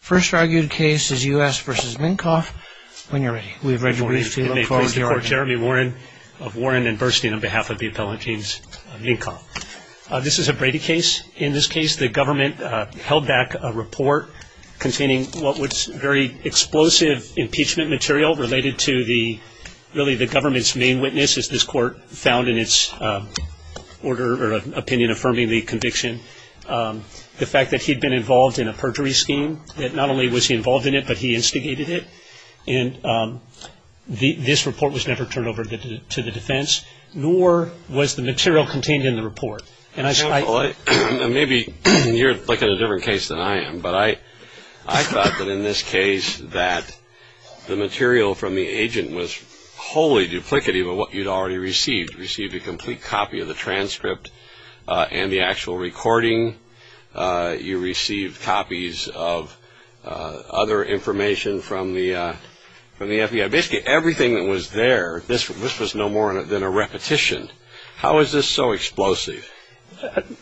First argued case is U.S. v. Mincoff. When you're ready, we've read your brief, we look forward to your argument. May it please the court, Jeremy Warren of Warren and Burstein on behalf of the appellate teams, Mincoff. This is a Brady case. In this case, the government held back a report containing what was very explosive impeachment material related to really the government's main witness, as this court found in its opinion affirming the conviction. The fact that he'd been involved in a perjury scheme, that not only was he involved in it, but he instigated it. And this report was never turned over to the defense, nor was the material contained in the report. And I – Well, maybe you're looking at a different case than I am, but I thought that in this case, that the material from the agent was wholly duplicative of what you'd already received. You received a complete copy of the transcript and the actual recording. You received copies of other information from the FBI. Basically, everything that was there, this was no more than a repetition. How is this so explosive?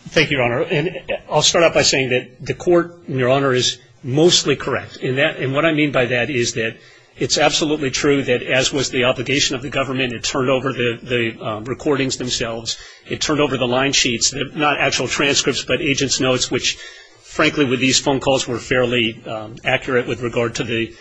Thank you, Your Honor. And I'll start out by saying that the court, Your Honor, is mostly correct. And what I mean by that is that it's absolutely true that as was the obligation of the government and it turned over the recordings themselves. It turned over the line sheets, not actual transcripts, but agents' notes, which frankly with these phone calls were fairly accurate with regard to the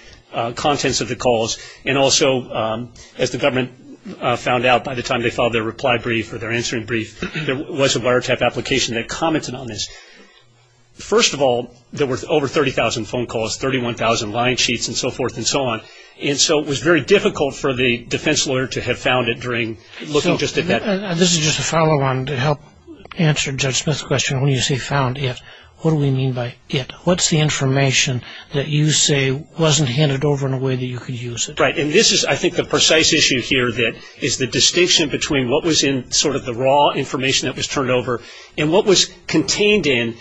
contents of the calls. And also, as the government found out by the time they filed their reply brief or their answering brief, there was a wiretap application that commented on this. First of all, there were over 30,000 phone calls, 31,000 line sheets, and so forth and so on. And so it was very difficult for the defense lawyer to have found it during looking just at that. This is just a follow-on to help answer Judge Smith's question. When you say found it, what do we mean by it? What's the information that you say wasn't handed over in a way that you could use it? Right. And this is, I think, the precise issue here that is the distinction between what was in sort of the raw information that was turned over and what was contained in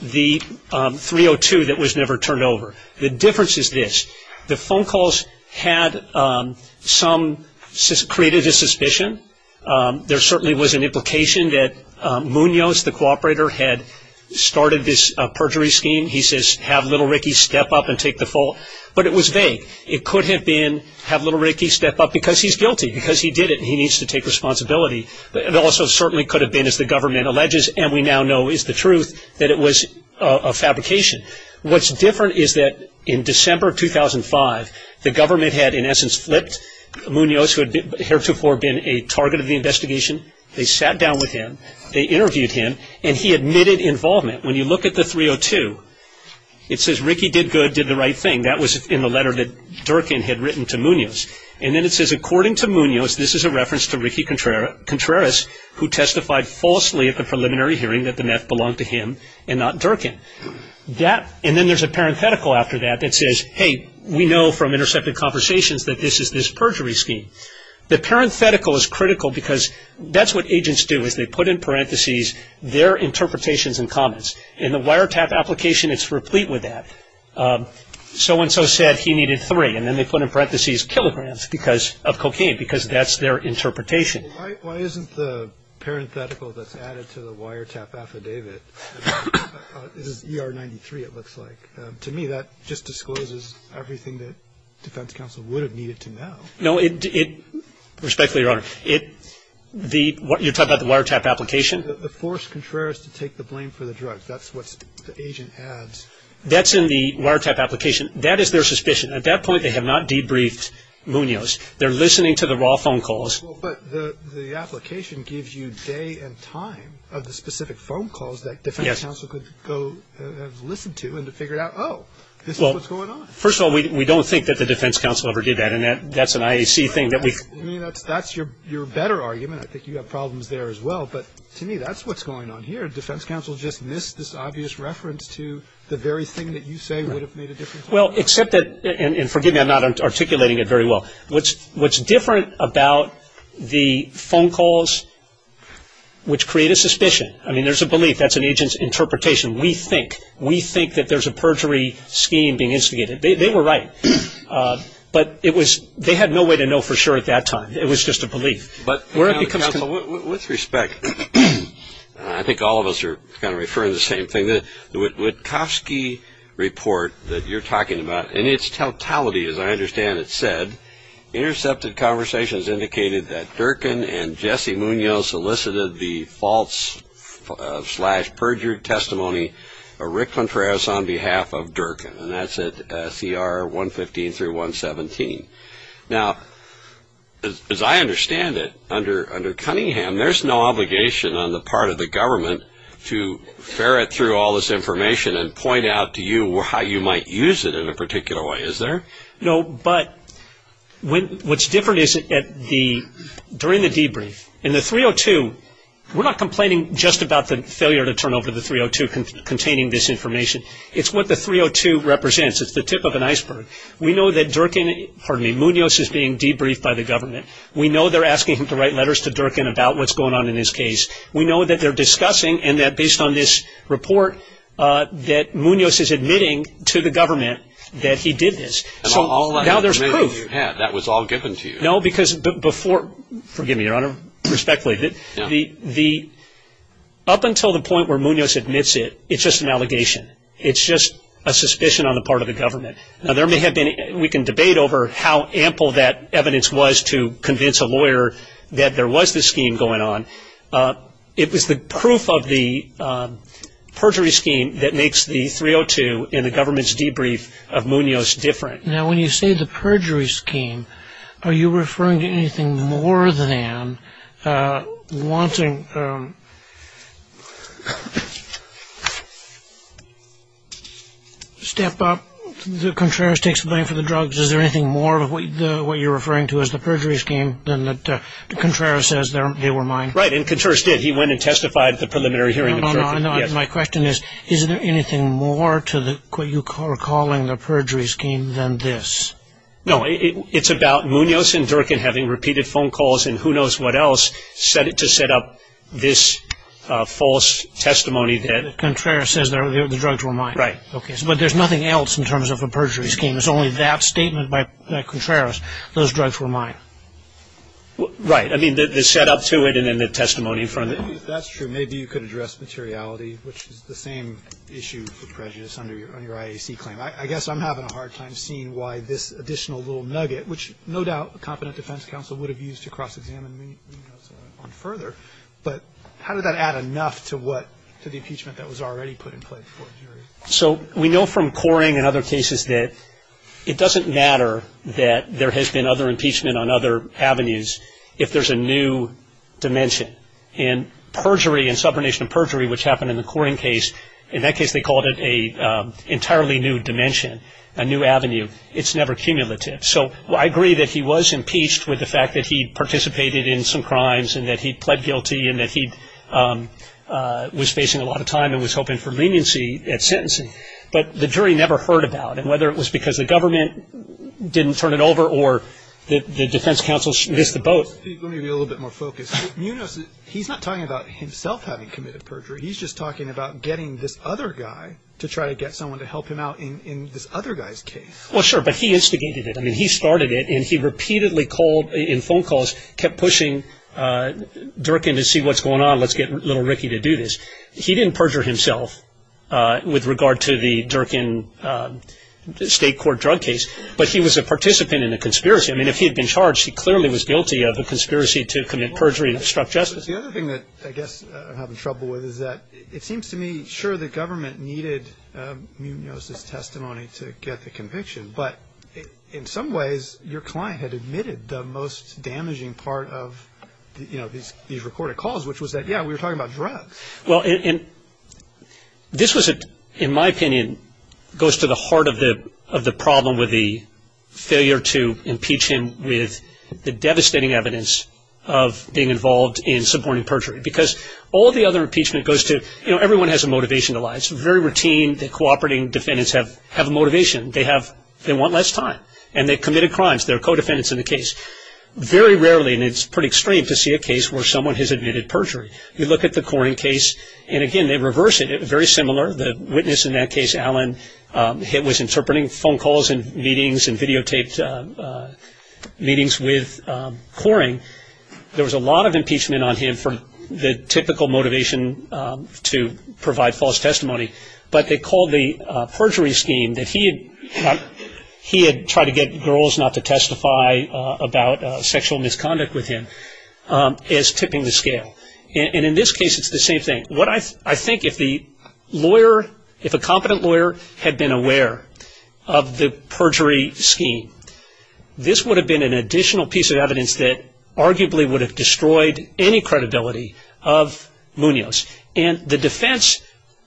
the 302 that was never turned over. The difference is this. The phone calls had some, created a suspicion. There certainly was an implication that Munoz, the cooperator, had started this perjury scheme. He says, have little Ricky step up and take the fall. But it was vague. It could have been, have little Ricky step up because he's guilty, because he did it and he needs to take responsibility. It also certainly could have been, as the government alleges, and we now know is the truth, that it was a fabrication. What's different is that in December 2005, the government had, in essence, flipped Munoz, who had heretofore been a target of the investigation. They sat down with him. They interviewed him. And he admitted involvement. When you look at the 302, it says, Ricky did good, did the right thing. That was in the letter that Durkin had written to Munoz. And then it says, according to Munoz, this is a reference to Ricky Contreras, who testified falsely at the preliminary hearing that the meth belonged to him and not Durkin. And then there's a parenthetical after that that says, hey, we know from intercepted conversations that this is this perjury scheme. The parenthetical is critical because that's what agents do, is they put in parentheses their interpretations and comments. In the wiretap application, it's replete with that. So-and-so said he needed three. And then they put in parentheses kilograms of cocaine because that's their interpretation. Why isn't the parenthetical that's added to the wiretap affidavit, this is ER-93, it looks like. To me, that just discloses everything that defense counsel would have needed to know. No, it-respectfully, Your Honor, it-you're talking about the wiretap application? The forced Contreras to take the blame for the drugs. That's what the agent adds. That's in the wiretap application. That is their suspicion. At that point, they have not debriefed Munoz. They're listening to the raw phone calls. But the application gives you day and time of the specific phone calls that defense counsel could go and listen to and to figure out, oh, this is what's going on. First of all, we don't think that the defense counsel ever did that, and that's an IAC thing that we- I mean, that's your better argument. I think you have problems there as well. But to me, that's what's going on here. Defense counsel just missed this obvious reference to the very thing that you say would have made a difference. Well, except that-and forgive me, I'm not articulating it very well. What's different about the phone calls, which create a suspicion. I mean, there's a belief. That's an agent's interpretation. We think. We think that there's a perjury scheme being instigated. They were right. But it was-they had no way to know for sure at that time. It was just a belief. Where it becomes- But, counsel, with respect, I think all of us are kind of referring to the same thing. The Witkowski report that you're talking about, in its totality, as I understand it, said, intercepted conversations indicated that Durkin and Jesse Munoz solicited the false-slash-perjured testimony of Rick Contreras on behalf of Durkin. And that's at CR 115 through 117. Now, as I understand it, under Cunningham, there's no obligation on the part of the government to ferret through all this information and point out to you how you might use it in a particular way, is there? No, but what's different is, during the debrief, in the 302, we're not complaining just about the failure to turn over the 302 containing this information. It's what the 302 represents. It's the tip of an iceberg. We know that Durkin-pardon me-Munoz is being debriefed by the government. We know they're asking him to write letters to Durkin about what's going on in his case. We know that they're discussing, and that based on this report, that Munoz is admitting to the government that he did this. And all that information you had, that was all given to you? No, because before-forgive me, Your Honor, respectfully-up until the point where Munoz admits it, it's just an allegation. It's just a suspicion on the part of the government. Now, there may have been-we can debate over how ample that evidence was to convince a lawyer that there was this scheme going on. It was the proof of the perjury scheme that makes the 302 in the government's debrief of Munoz different. Now, when you say the perjury scheme, are you referring to anything more than wanting-step up, Contreras takes the blame for the drugs. Is there anything more of what you're referring to as the perjury scheme than that Contreras says they were mine? Right, and Contreras did. He went and testified at the preliminary hearing. My question is, is there anything more to what you are calling the perjury scheme than this? No, it's about Munoz and Durkin having repeated phone calls and who knows what else to set up this false testimony that- Contreras says the drugs were mine. Right. But there's nothing else in terms of a perjury scheme. It's only that statement by Contreras, those drugs were mine. Right. If that's true, maybe you could address materiality, which is the same issue for prejudice under your IAC claim. I guess I'm having a hard time seeing why this additional little nugget, which no doubt a competent defense counsel would have used to cross-examine Munoz on further. But how did that add enough to what, to the impeachment that was already put in place for a jury? So we know from Coring and other cases that it doesn't matter that there has been other impeachment on other avenues if there's a new dimension. And perjury and subordination of perjury, which happened in the Coring case, in that case they called it an entirely new dimension, a new avenue. It's never cumulative. So I agree that he was impeached with the fact that he participated in some crimes and that he pled guilty and that he was facing a lot of time and was hoping for leniency at sentencing. But the jury never heard about it, whether it was because the government didn't turn it over or the defense counsel missed the boat. Let me be a little bit more focused. Munoz, he's not talking about himself having committed perjury. He's just talking about getting this other guy to try to get someone to help him out in this other guy's case. Well, sure, but he instigated it. I mean, he started it and he repeatedly called in phone calls, kept pushing Durkin to see what's going on, let's get little Ricky to do this. He didn't perjure himself with regard to the Durkin state court drug case, but he was a participant in the conspiracy. I mean, if he had been charged, he clearly was guilty of a conspiracy to commit perjury and obstruct justice. The other thing that I guess I'm having trouble with is that it seems to me, sure, the government needed Munoz's testimony to get the conviction, but in some ways your client had admitted the most damaging part of these reported calls, which was that, yeah, we were talking about drugs. Well, this was, in my opinion, goes to the heart of the problem with the failure to impeach him with the devastating evidence of being involved in suborning perjury, because all the other impeachment goes to, you know, everyone has a motivation to lie. It's very routine that cooperating defendants have a motivation. They want less time, and they've committed crimes. They're co-defendants in the case. Very rarely, and it's pretty extreme to see a case where someone has admitted perjury. You look at the Coring case, and, again, they reverse it. It was very similar. The witness in that case, Alan, was interpreting phone calls and meetings and videotaped meetings with Coring. There was a lot of impeachment on him for the typical motivation to provide false testimony, but they called the perjury scheme that he had tried to get girls not to testify about sexual misconduct with him as tipping the scale, and in this case, it's the same thing. I think if the lawyer, if a competent lawyer had been aware of the perjury scheme, this would have been an additional piece of evidence that arguably would have destroyed any credibility of Munoz, and the defense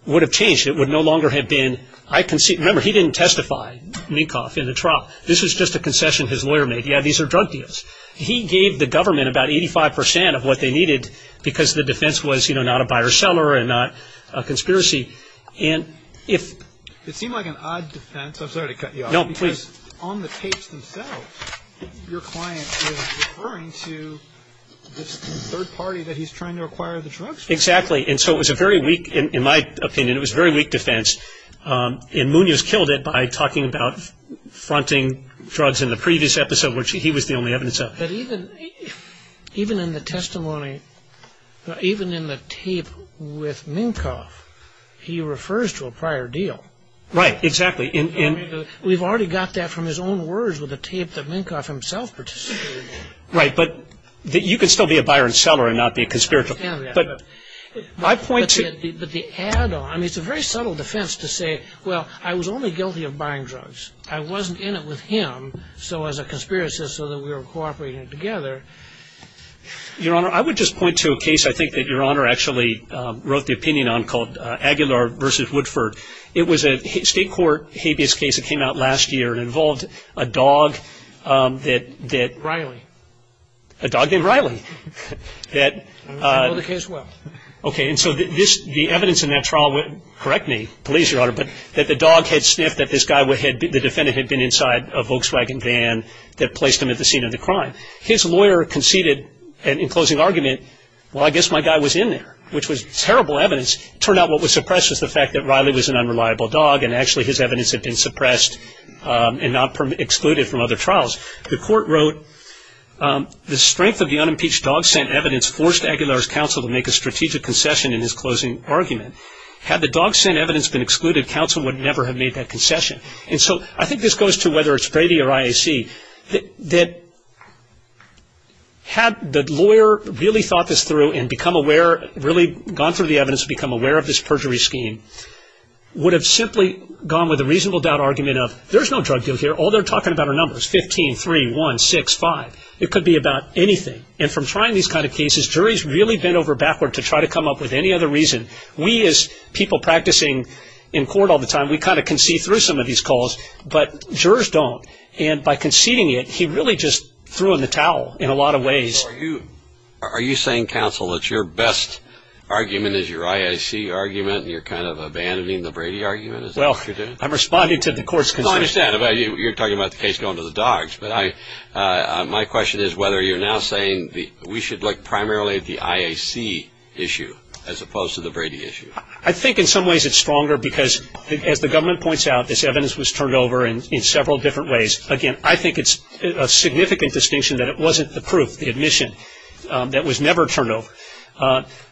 would have changed. It would no longer have been, I concede. Remember, he didn't testify, Minkoff, in the trial. This was just a concession his lawyer made. Yeah, these are drug deals. He gave the government about 85% of what they needed because the defense was, you know, not a buyer-seller and not a conspiracy. It seemed like an odd defense. I'm sorry to cut you off. No, please. Because on the tapes themselves, your client is referring to this third party that he's trying to acquire the drugs from. Exactly, and so it was a very weak, in my opinion, it was a very weak defense, and Munoz killed it by talking about fronting drugs in the previous episode, which he was the only evidence of. But even in the testimony, even in the tape with Minkoff, he refers to a prior deal. Right, exactly. We've already got that from his own words with the tape that Minkoff himself participated in. Right, but you can still be a buyer and seller and not be a conspiracy. But the add-on, I mean, it's a very subtle defense to say, well, I was only guilty of buying drugs. I wasn't in it with him. So as a conspiracist, so that we were cooperating together. Your Honor, I would just point to a case I think that Your Honor actually wrote the opinion on called Aguilar v. Woodford. It was a state court habeas case that came out last year and involved a dog that. Riley. A dog named Riley. I know the case well. Okay, and so the evidence in that trial, correct me, please, Your Honor, but that the dog had sniffed that this guy, the defendant had been inside a Volkswagen van that placed him at the scene of the crime. His lawyer conceded in closing argument, well, I guess my guy was in there, which was terrible evidence. It turned out what was suppressed was the fact that Riley was an unreliable dog, and actually his evidence had been suppressed and not excluded from other trials. The court wrote, the strength of the unimpeached dog scent evidence forced Aguilar's counsel to make a strategic concession in his closing argument. Had the dog scent evidence been excluded, counsel would never have made that concession. And so I think this goes to whether it's Brady or IAC, that had the lawyer really thought this through and become aware, really gone through the evidence and become aware of this perjury scheme, would have simply gone with a reasonable doubt argument of there's no drug deal here. All they're talking about are numbers, 15, 3, 1, 6, 5. It could be about anything. And from trying these kind of cases, jury's really bent over backward to try to come up with any other reason. We as people practicing in court all the time, we kind of concede through some of these calls, but jurors don't. And by conceding it, he really just threw in the towel in a lot of ways. Are you saying, counsel, that your best argument is your IAC argument and you're kind of abandoning the Brady argument, is that what you're doing? I'm responding to the court's concerns. No, I understand. You're talking about the case going to the dogs. But my question is whether you're now saying we should look primarily at the IAC issue as opposed to the Brady issue. I think in some ways it's stronger because, as the government points out, this evidence was turned over in several different ways. Again, I think it's a significant distinction that it wasn't the proof, the admission, that was never turned over.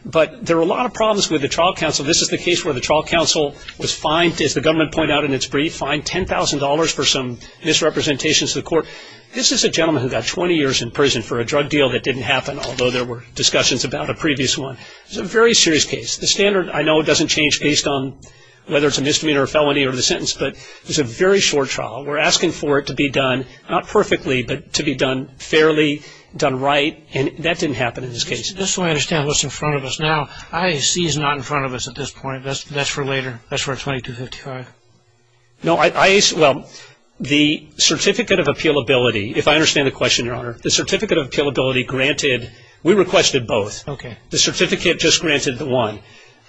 But there are a lot of problems with the trial counsel. This is the case where the trial counsel was fined, as the government pointed out in its brief, fined $10,000 for some misrepresentations to the court. This is a gentleman who got 20 years in prison for a drug deal that didn't happen, although there were discussions about a previous one. It was a very serious case. The standard, I know, doesn't change based on whether it's a misdemeanor, a felony, or the sentence, but it was a very short trial. We're asking for it to be done, not perfectly, but to be done fairly, done right, and that didn't happen in this case. I just want to understand what's in front of us now. I see it's not in front of us at this point. That's for later. That's for 2255. Well, the certificate of appealability, if I understand the question, Your Honor, the certificate of appealability granted, we requested both. Okay. The certificate just granted the one.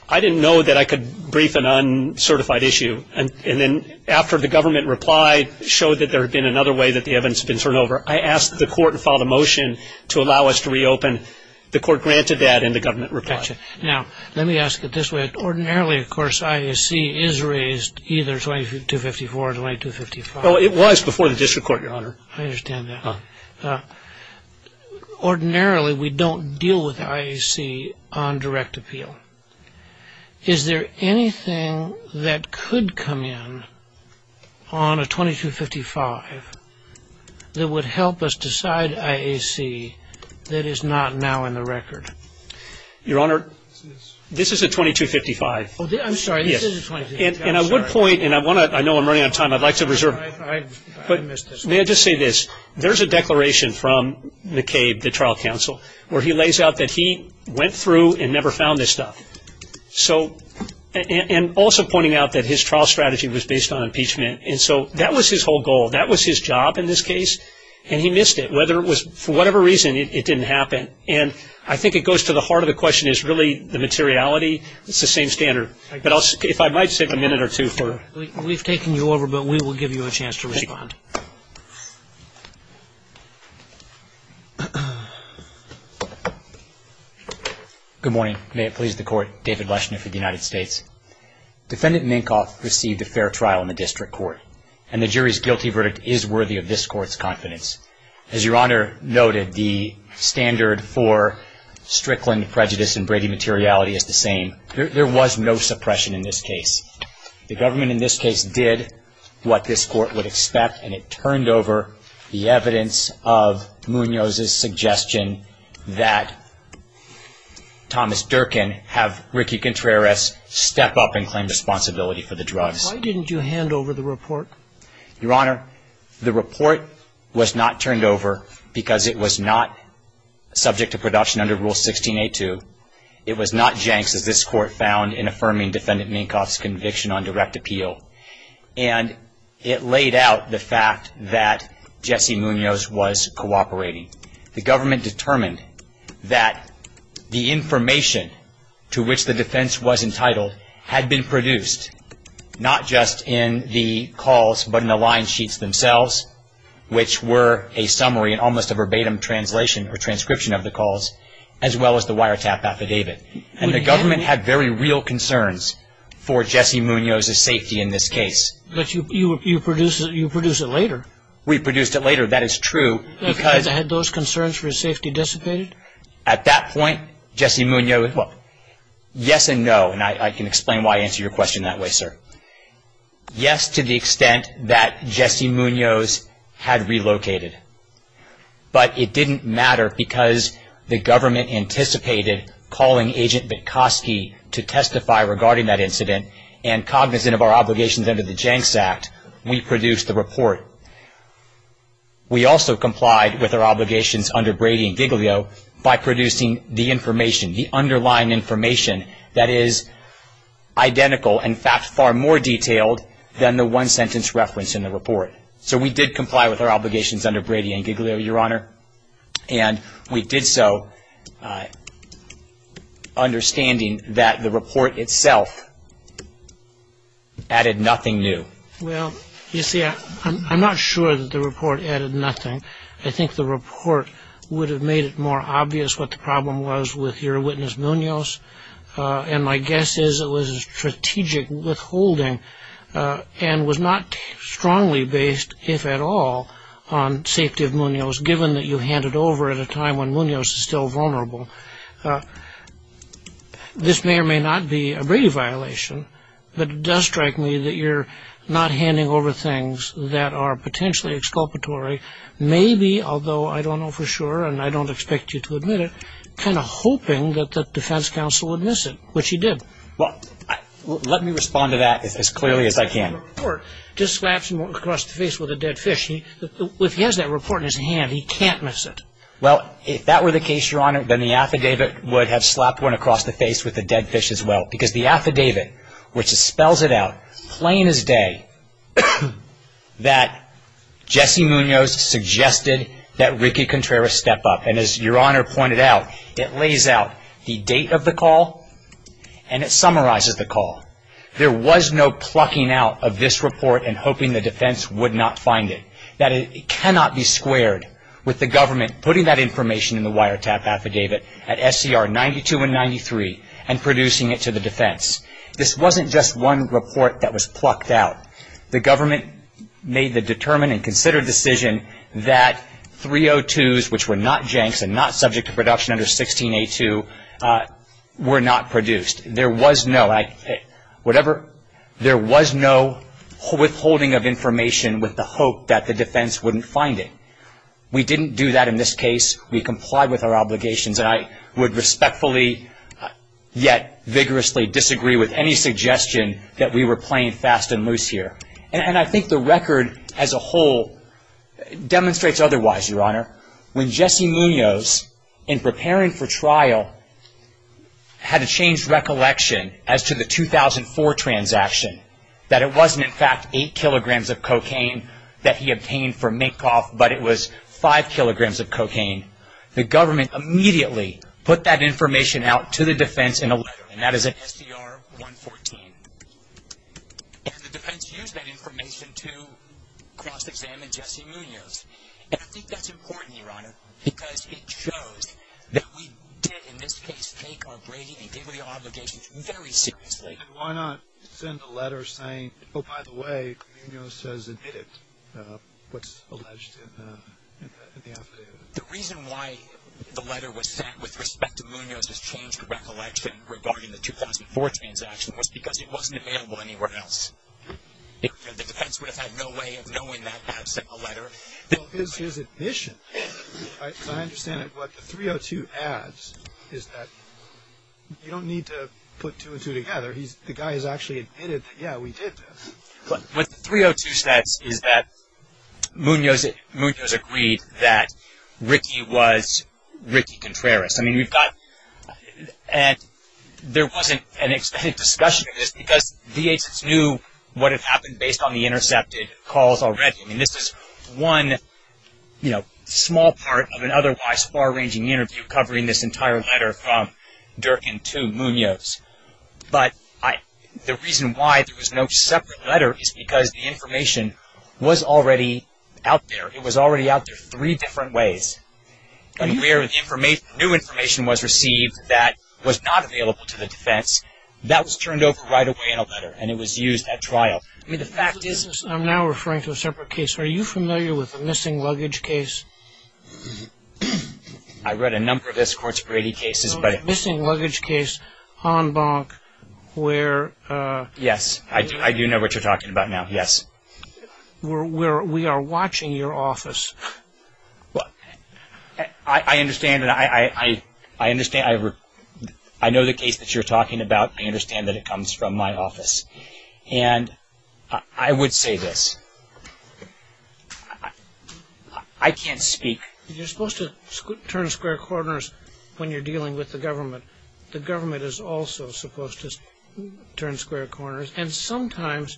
I didn't know that I could brief an uncertified issue, and then after the government replied, showed that there had been another way that the evidence had been turned over, I asked the court and filed a motion to allow us to reopen. The court granted that, and the government replied. Gotcha. Now, let me ask it this way. Ordinarily, of course, IAC is raised either 2254 or 2255. Oh, it was before the district court, Your Honor. I understand that. Ordinarily, we don't deal with IAC on direct appeal. Is there anything that could come in on a 2255 that would help us decide IAC that is not now in the record? Your Honor, this is a 2255. Oh, I'm sorry. This is a 2255. And I would point, and I know I'm running out of time. I'd like to reserve it. I missed this one. May I just say this? There's a declaration from McCabe, the trial counsel, where he lays out that he went through and never found this stuff. And also pointing out that his trial strategy was based on impeachment. And so that was his whole goal. That was his job in this case, and he missed it. Whether it was for whatever reason, it didn't happen. And I think it goes to the heart of the question is really the materiality. It's the same standard. But if I might save a minute or two for it. We've taken you over, but we will give you a chance to respond. Good morning. May it please the Court. David Leshner for the United States. Defendant Minkoff received a fair trial in the district court, and the jury's guilty verdict is worthy of this Court's confidence. As Your Honor noted, the standard for Strickland prejudice and Brady materiality is the same. There was no suppression in this case. The government in this case did what this Court would expect, and it turned over the evidence of Munoz's suggestion that Thomas Durkin have Ricky Contreras step up and claim responsibility for the drugs. Why didn't you hand over the report? Your Honor, the report was not turned over because it was not subject to production under Rule 16.A.2. It was not janks, as this Court found in affirming Defendant Minkoff's conviction on direct appeal. And it laid out the fact that Jesse Munoz was cooperating. The government determined that the information to which the defense was entitled had been produced, not just in the calls, but in the line sheets themselves, which were a summary and almost a verbatim translation or transcription of the calls, as well as the wiretap affidavit. And the government had very real concerns for Jesse Munoz's safety in this case. But you produced it later. We produced it later, that is true. Had those concerns for his safety dissipated? At that point, Jesse Munoz, yes and no, and I can explain why I answer your question that way, sir. Yes, to the extent that Jesse Munoz had relocated. But it didn't matter because the government anticipated calling Agent Bitkoski to testify regarding that incident, and cognizant of our obligations under the Janks Act, we produced the report. We also complied with our obligations under Brady and Giglio by producing the information, the underlying information that is identical and, in fact, far more detailed than the one-sentence reference in the report. So we did comply with our obligations under Brady and Giglio, Your Honor, and we did so understanding that the report itself added nothing new. Well, you see, I'm not sure that the report added nothing. I think the report would have made it more obvious what the problem was with your witness Munoz, and my guess is it was a strategic withholding and was not strongly based, if at all, on safety of Munoz, given that you hand it over at a time when Munoz is still vulnerable. This may or may not be a Brady violation, but it does strike me that you're not handing over things that are potentially exculpatory, maybe, although I don't know for sure and I don't expect you to admit it, kind of hoping that the defense counsel would miss it, which he did. Well, let me respond to that as clearly as I can. The report just slaps him across the face with a dead fish. If he has that report in his hand, he can't miss it. Well, if that were the case, Your Honor, then the affidavit would have slapped one across the face with a dead fish as well, because the affidavit, which spells it out plain as day that Jesse Munoz suggested that Ricky Contreras step up, and as Your Honor pointed out, it lays out the date of the call and it summarizes the call. There was no plucking out of this report and hoping the defense would not find it. It cannot be squared with the government putting that information in the wiretap affidavit at SCR 92 and 93 and producing it to the defense. This wasn't just one report that was plucked out. The government made the determined and considered decision that 302s, which were not Jenks and not subject to production under 16A2, were not produced. There was no withholding of information with the hope that the defense wouldn't find it. We didn't do that in this case. We complied with our obligations and I would respectfully, yet vigorously, disagree with any suggestion that we were playing fast and loose here. And I think the record as a whole demonstrates otherwise, Your Honor. When Jesse Munoz, in preparing for trial, had a changed recollection as to the 2004 transaction, that it wasn't, in fact, 8 kilograms of cocaine that he obtained from Minkoff, but it was 5 kilograms of cocaine, the government immediately put that information out to the defense in a letter, and that is at SCR 114. And the defense used that information to cross-examine Jesse Munoz. And I think that's important, Your Honor, because it shows that we did, in this case, take our grading and dignity obligations very seriously. Why not send a letter saying, oh, by the way, Munoz has admitted what's alleged in the affidavit? The reason why the letter was sent with respect to Munoz's changed recollection regarding the 2004 transaction was because it wasn't available anywhere else. The defense would have had no way of knowing that absent a letter. Well, his admission, as I understand it, what the 302 adds is that you don't need to put two and two together. The guy has actually admitted, yeah, we did this. What the 302 says is that Munoz agreed that Ricky was Ricky Contreras. I mean, we've got – and there wasn't an extended discussion of this because the agents knew what had happened based on the intercepted calls already. I mean, this is one, you know, small part of an otherwise far-ranging interview covering this entire letter from Durkin to Munoz. But the reason why there was no separate letter is because the information was already out there. It was already out there three different ways. And where the new information was received that was not available to the defense, that was turned over right away in a letter, and it was used at trial. I mean, the fact is – I'm now referring to a separate case. Are you familiar with the missing luggage case? I read a number of this Court's Brady cases, but – The missing luggage case on Bonk where – Yes, I do know what you're talking about now, yes. Where we are watching your office. Well, I understand, and I know the case that you're talking about. I understand that it comes from my office. And I would say this. I can't speak. You're supposed to turn square corners when you're dealing with the government. The government is also supposed to turn square corners. And sometimes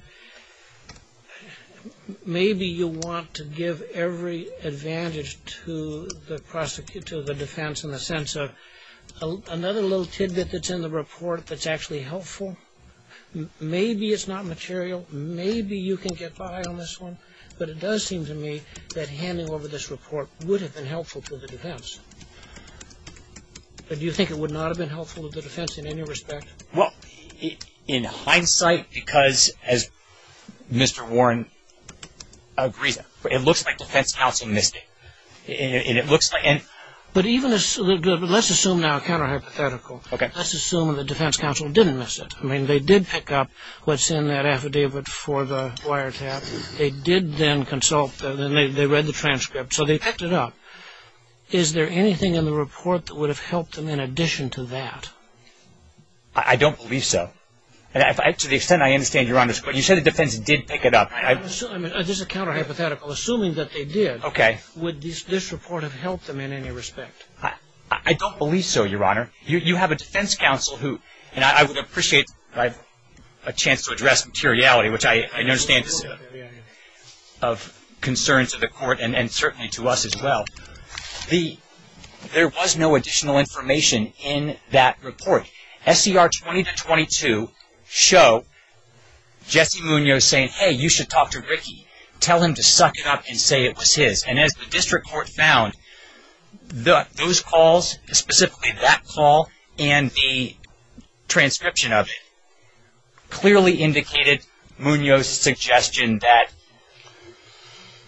maybe you want to give every advantage to the defense in the sense of another little tidbit that's in the report that's actually helpful. Maybe it's not material. Maybe you can get by on this one. But it does seem to me that handing over this report would have been helpful to the defense. But do you think it would not have been helpful to the defense in any respect? Well, in hindsight, because, as Mr. Warren agrees, it looks like defense counsel missed it. And it looks like – But even – let's assume now, counter-hypothetical. Okay. Let's assume the defense counsel didn't miss it. I mean, they did pick up what's in that affidavit for the wiretap. They did then consult. They read the transcript. So they picked it up. Is there anything in the report that would have helped them in addition to that? I don't believe so. To the extent I understand, Your Honor, you said the defense did pick it up. I'm assuming – this is a counter-hypothetical. Assuming that they did, would this report have helped them in any respect? I don't believe so, Your Honor. You have a defense counsel who – and I would appreciate a chance to address materiality, which I understand is of concern to the court and certainly to us as well. There was no additional information in that report. SCR 20-22 show Jesse Munoz saying, hey, you should talk to Ricky. Tell him to suck it up and say it was his. And as the district court found, those calls, specifically that call and the transcription of it, clearly indicated Munoz's suggestion that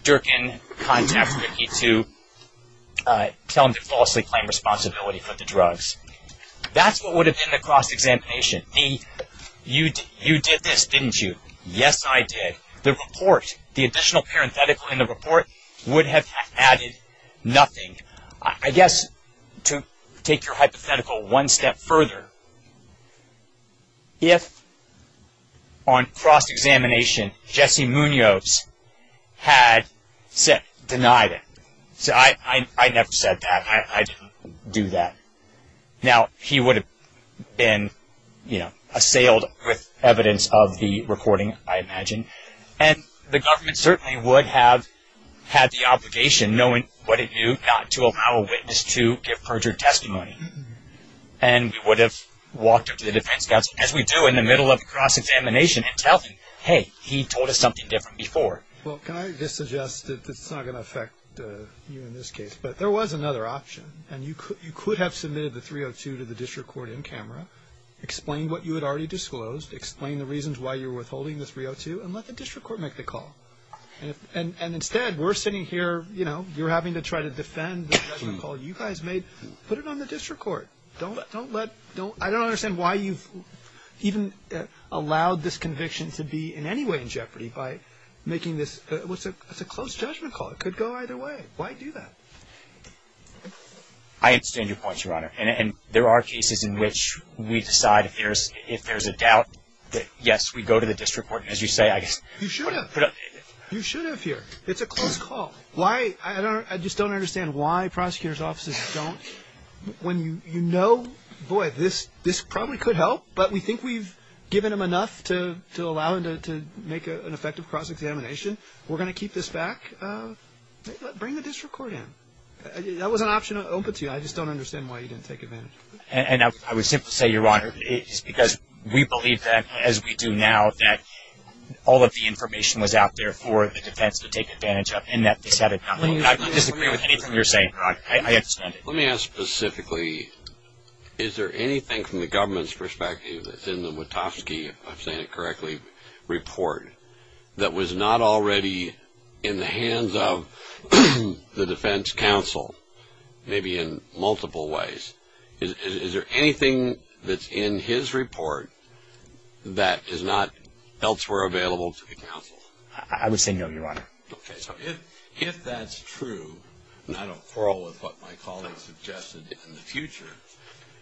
Durkin contact Ricky to tell him to falsely claim responsibility for the drugs. That's what would have been the cross-examination. You did this, didn't you? Yes, I did. The report, the additional parenthetical in the report, would have added nothing. I guess to take your hypothetical one step further, if on cross-examination Jesse Munoz had denied it – I never said that. I didn't do that. Now, he would have been assailed with evidence of the recording, I imagine. And the government certainly would have had the obligation, knowing what it knew, not to allow a witness to give perjured testimony. And we would have walked up to the defense counsel, as we do in the middle of a cross-examination, and tell him, hey, he told us something different before. Well, can I just suggest that it's not going to affect you in this case. But there was another option, and you could have submitted the 302 to the district court in camera, explained what you had already disclosed, explained the reasons why you were withholding the 302, and let the district court make the call. And instead, we're sitting here, you know, you're having to try to defend the judgment call you guys made. Put it on the district court. I don't understand why you've even allowed this conviction to be in any way in jeopardy by making this. It's a close judgment call. It could go either way. Why do that? I understand your point, Your Honor. And there are cases in which we decide if there's a doubt that, yes, we go to the district court. As you say, I guess. You should have. You should have here. It's a close call. Why? I just don't understand why prosecutors' offices don't, when you know, boy, this probably could help, but we think we've given them enough to allow them to make an effective cross-examination. We're going to keep this back. Bring the district court in. That was an option open to you. I just don't understand why you didn't take advantage of it. And I would simply say, Your Honor, it's because we believe that, as we do now, that all of the information was out there for the defense to take advantage of, and that they said it. I disagree with anything you're saying, Your Honor. I understand it. Let me ask specifically, is there anything from the government's perspective, if I'm saying it correctly, report that was not already in the hands of the defense counsel, maybe in multiple ways? Is there anything that's in his report that is not elsewhere available to the counsel? I would say no, Your Honor. Okay. So if that's true, and I don't quarrel with what my colleagues suggested in the future,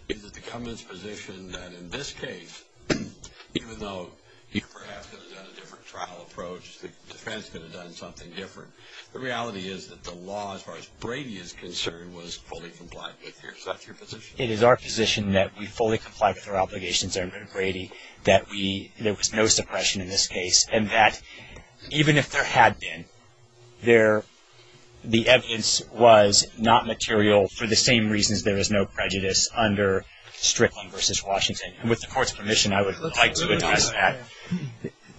is it the government's position that, in this case, even though you perhaps could have done a different trial approach, the defense could have done something different, the reality is that the law, as far as Brady is concerned, was fully complied with. Is that your position? It is our position that we fully complied with our obligations under Brady, that there was no suppression in this case, and that even if there had been, the evidence was not material for the same reasons there is no prejudice under Strickland v. Washington. And with the Court's permission, I would like to address that.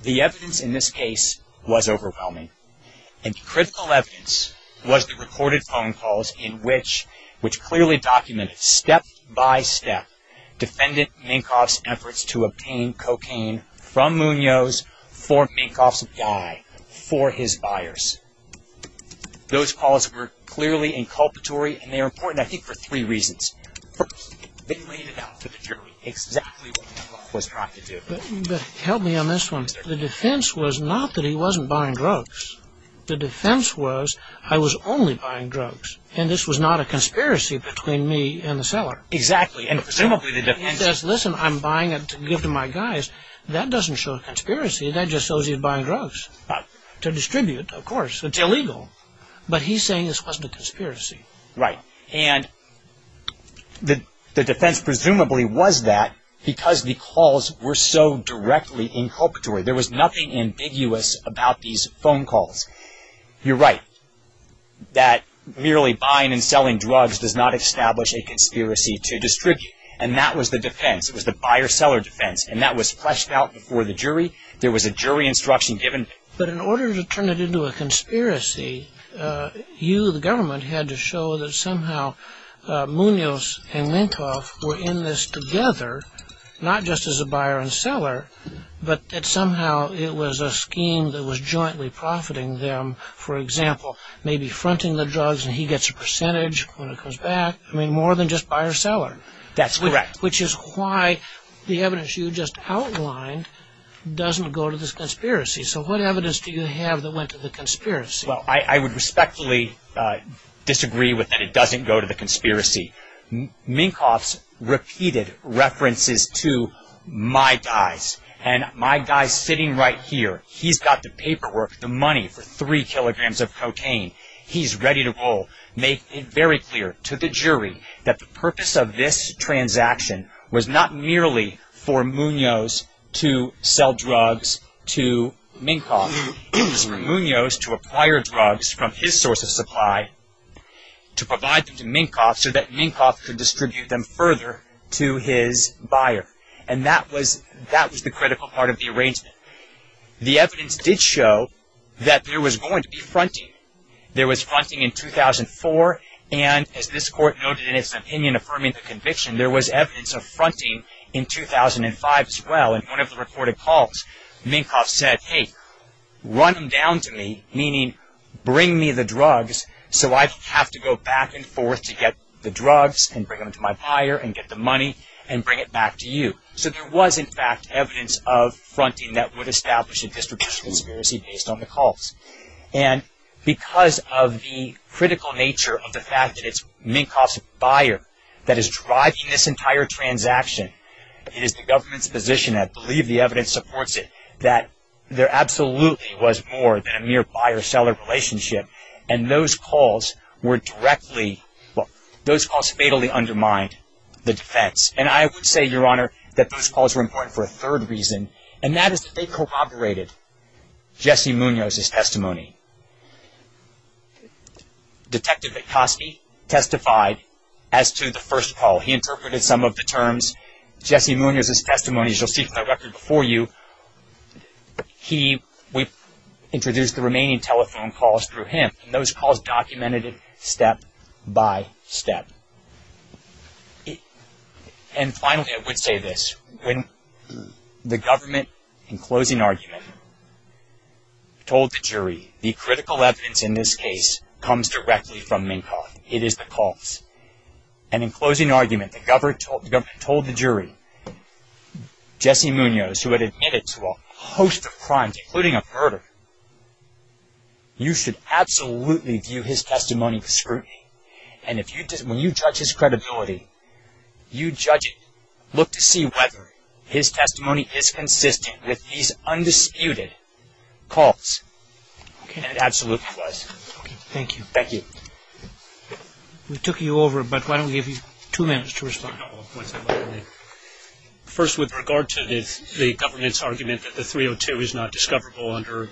The evidence in this case was overwhelming, and the critical evidence was the recorded phone calls, which clearly documented, step by step, defendant Minkoff's efforts to obtain cocaine from Munoz for Minkoff's guy, for his buyers. Those calls were clearly inculpatory, and they are important, I think, for three reasons. First, they laid it out to the jury exactly what Minkoff was trying to do. But help me on this one. The defense was not that he wasn't buying drugs. The defense was, I was only buying drugs, and this was not a conspiracy between me and the seller. Exactly, and presumably the defense... He says, listen, I'm buying it to give to my guys. That doesn't show a conspiracy. That just shows he's buying drugs to distribute, of course. It's illegal. But he's saying this wasn't a conspiracy. Right. And the defense presumably was that because the calls were so directly inculpatory. There was nothing ambiguous about these phone calls. You're right, that merely buying and selling drugs does not establish a conspiracy to distribute. And that was the defense. It was the buyer-seller defense, and that was fleshed out before the jury. There was a jury instruction given. But in order to turn it into a conspiracy, you, the government, had to show that somehow Munoz and Minkoff were in this together, not just as a buyer and seller, but that somehow it was a scheme that was jointly profiting them. For example, maybe fronting the drugs, and he gets a percentage when it comes back. I mean, more than just buyer-seller. That's correct. Which is why the evidence you just outlined doesn't go to this conspiracy. So what evidence do you have that went to the conspiracy? Well, I would respectfully disagree with that it doesn't go to the conspiracy. Minkoff's repeated references to my guys, and my guy sitting right here, he's got the paperwork, the money for three kilograms of cocaine. He's ready to roll. Make it very clear to the jury that the purpose of this transaction was not merely for Munoz to sell drugs to Minkoff. It was for Munoz to acquire drugs from his source of supply to provide them to Minkoff so that Minkoff could distribute them further to his buyer. And that was the critical part of the arrangement. The evidence did show that there was going to be fronting. There was fronting in 2004, and as this court noted in its opinion affirming the conviction, there was evidence of fronting in 2005 as well. In one of the reported calls, Minkoff said, Hey, run them down to me, meaning bring me the drugs so I have to go back and forth to get the drugs and bring them to my buyer and get the money and bring it back to you. So there was in fact evidence of fronting that would establish a distribution conspiracy based on the calls. And because of the critical nature of the fact that it's Minkoff's buyer that is driving this entire transaction, it is the government's position, I believe the evidence supports it, that there absolutely was more than a mere buyer-seller relationship. And those calls were directly, well, those calls fatally undermined the defense. And I would say, Your Honor, that those calls were important for a third reason, and that is that they corroborated Jesse Munoz's testimony. Detective McCoskey testified as to the first call. He interpreted some of the terms. Jesse Munoz's testimony, as you'll see from the record before you, he introduced the remaining telephone calls through him. And those calls documented it step by step. And finally, I would say this. When the government, in closing argument, told the jury, the critical evidence in this case comes directly from Minkoff. It is the calls. And in closing argument, the government told the jury, Jesse Munoz, who had admitted to a host of crimes, including a murder, you should absolutely view his testimony for scrutiny. And when you judge his credibility, you judge it. Look to see whether his testimony is consistent with these undisputed calls. And it absolutely was. Thank you. Thank you. We took you over, but why don't we give you two minutes to respond. First, with regard to the government's argument that the 302 is not discoverable under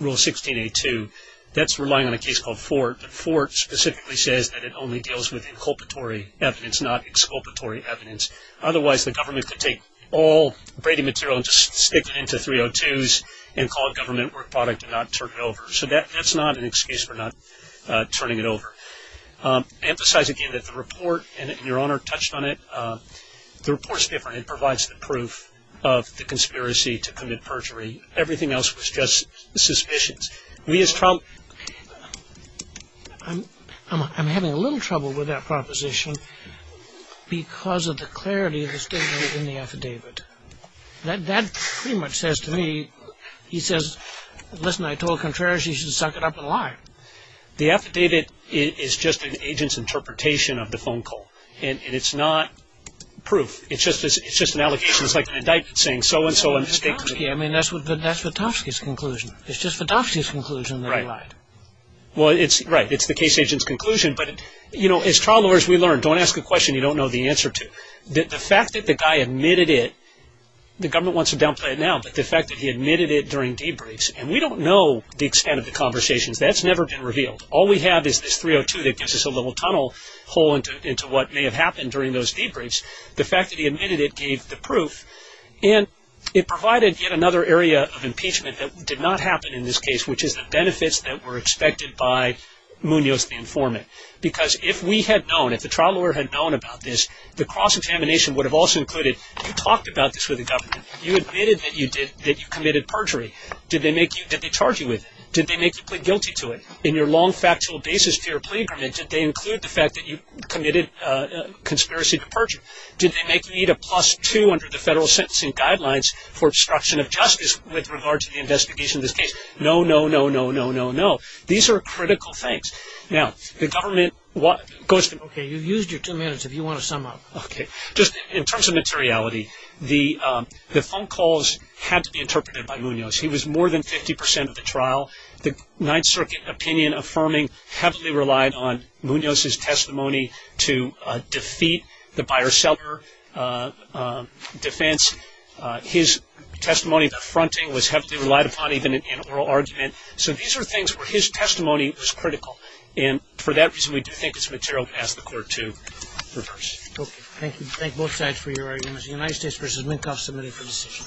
Rule 16.A.2, that's relying on a case called Fort. But Fort specifically says that it only deals with inculpatory evidence, not exculpatory evidence. Otherwise, the government could take all Brady material and just stick it into 302s and call it government work product and not turn it over. So that's not an excuse for not turning it over. Emphasize again that the report, and your Honor touched on it, the report's different. It provides the proof of the conspiracy to commit perjury. Everything else was just suspicions. We as Trump – I'm having a little trouble with that proposition because of the clarity of the statement in the affidavit. That pretty much says to me, he says, listen, I told Contreras he should suck it up and lie. The affidavit is just an agent's interpretation of the phone call, and it's not proof. It's just an allegation. It's like an indictment saying so-and-so and – I mean, that's Vitovsky's conclusion. It's just Vitovsky's conclusion that he lied. Right. Well, it's – right. It's the case agent's conclusion, but, you know, as trial lawyers, we learn, don't ask a question you don't know the answer to. The fact that the guy admitted it – the government wants to downplay it now, but the fact that he admitted it during debriefs – and we don't know the extent of the conversations. That's never been revealed. All we have is this 302 that gives us a little tunnel hole into what may have happened during those debriefs. The fact that he admitted it gave the proof, and it provided yet another area of impeachment that did not happen in this case, which is the benefits that were expected by Munoz the informant. Because if we had known, if the trial lawyer had known about this, the cross-examination would have also included you talked about this with the government. You admitted that you did – that you committed perjury. Did they make you – did they charge you with it? Did they make you plead guilty to it? In your long factual basis for your plea agreement, did they include the fact that you committed conspiracy to perjury? Did they make you need a plus two under the federal sentencing guidelines for obstruction of justice with regard to the investigation of this case? No, no, no, no, no, no, no. These are critical things. Now, the government – Okay, you've used your two minutes if you want to sum up. Okay. Just in terms of materiality, the phone calls had to be interpreted by Munoz. He was more than 50 percent of the trial. The Ninth Circuit opinion affirming heavily relied on Munoz's testimony to defeat the buyer-seller defense. His testimony, the fronting, was heavily relied upon even in oral argument. So these are things where his testimony was critical, and for that reason we do think it's material to ask the court to reverse. Okay. Thank you. Thank both sides for your arguments. The United States v. Minkoff, submitted for decision.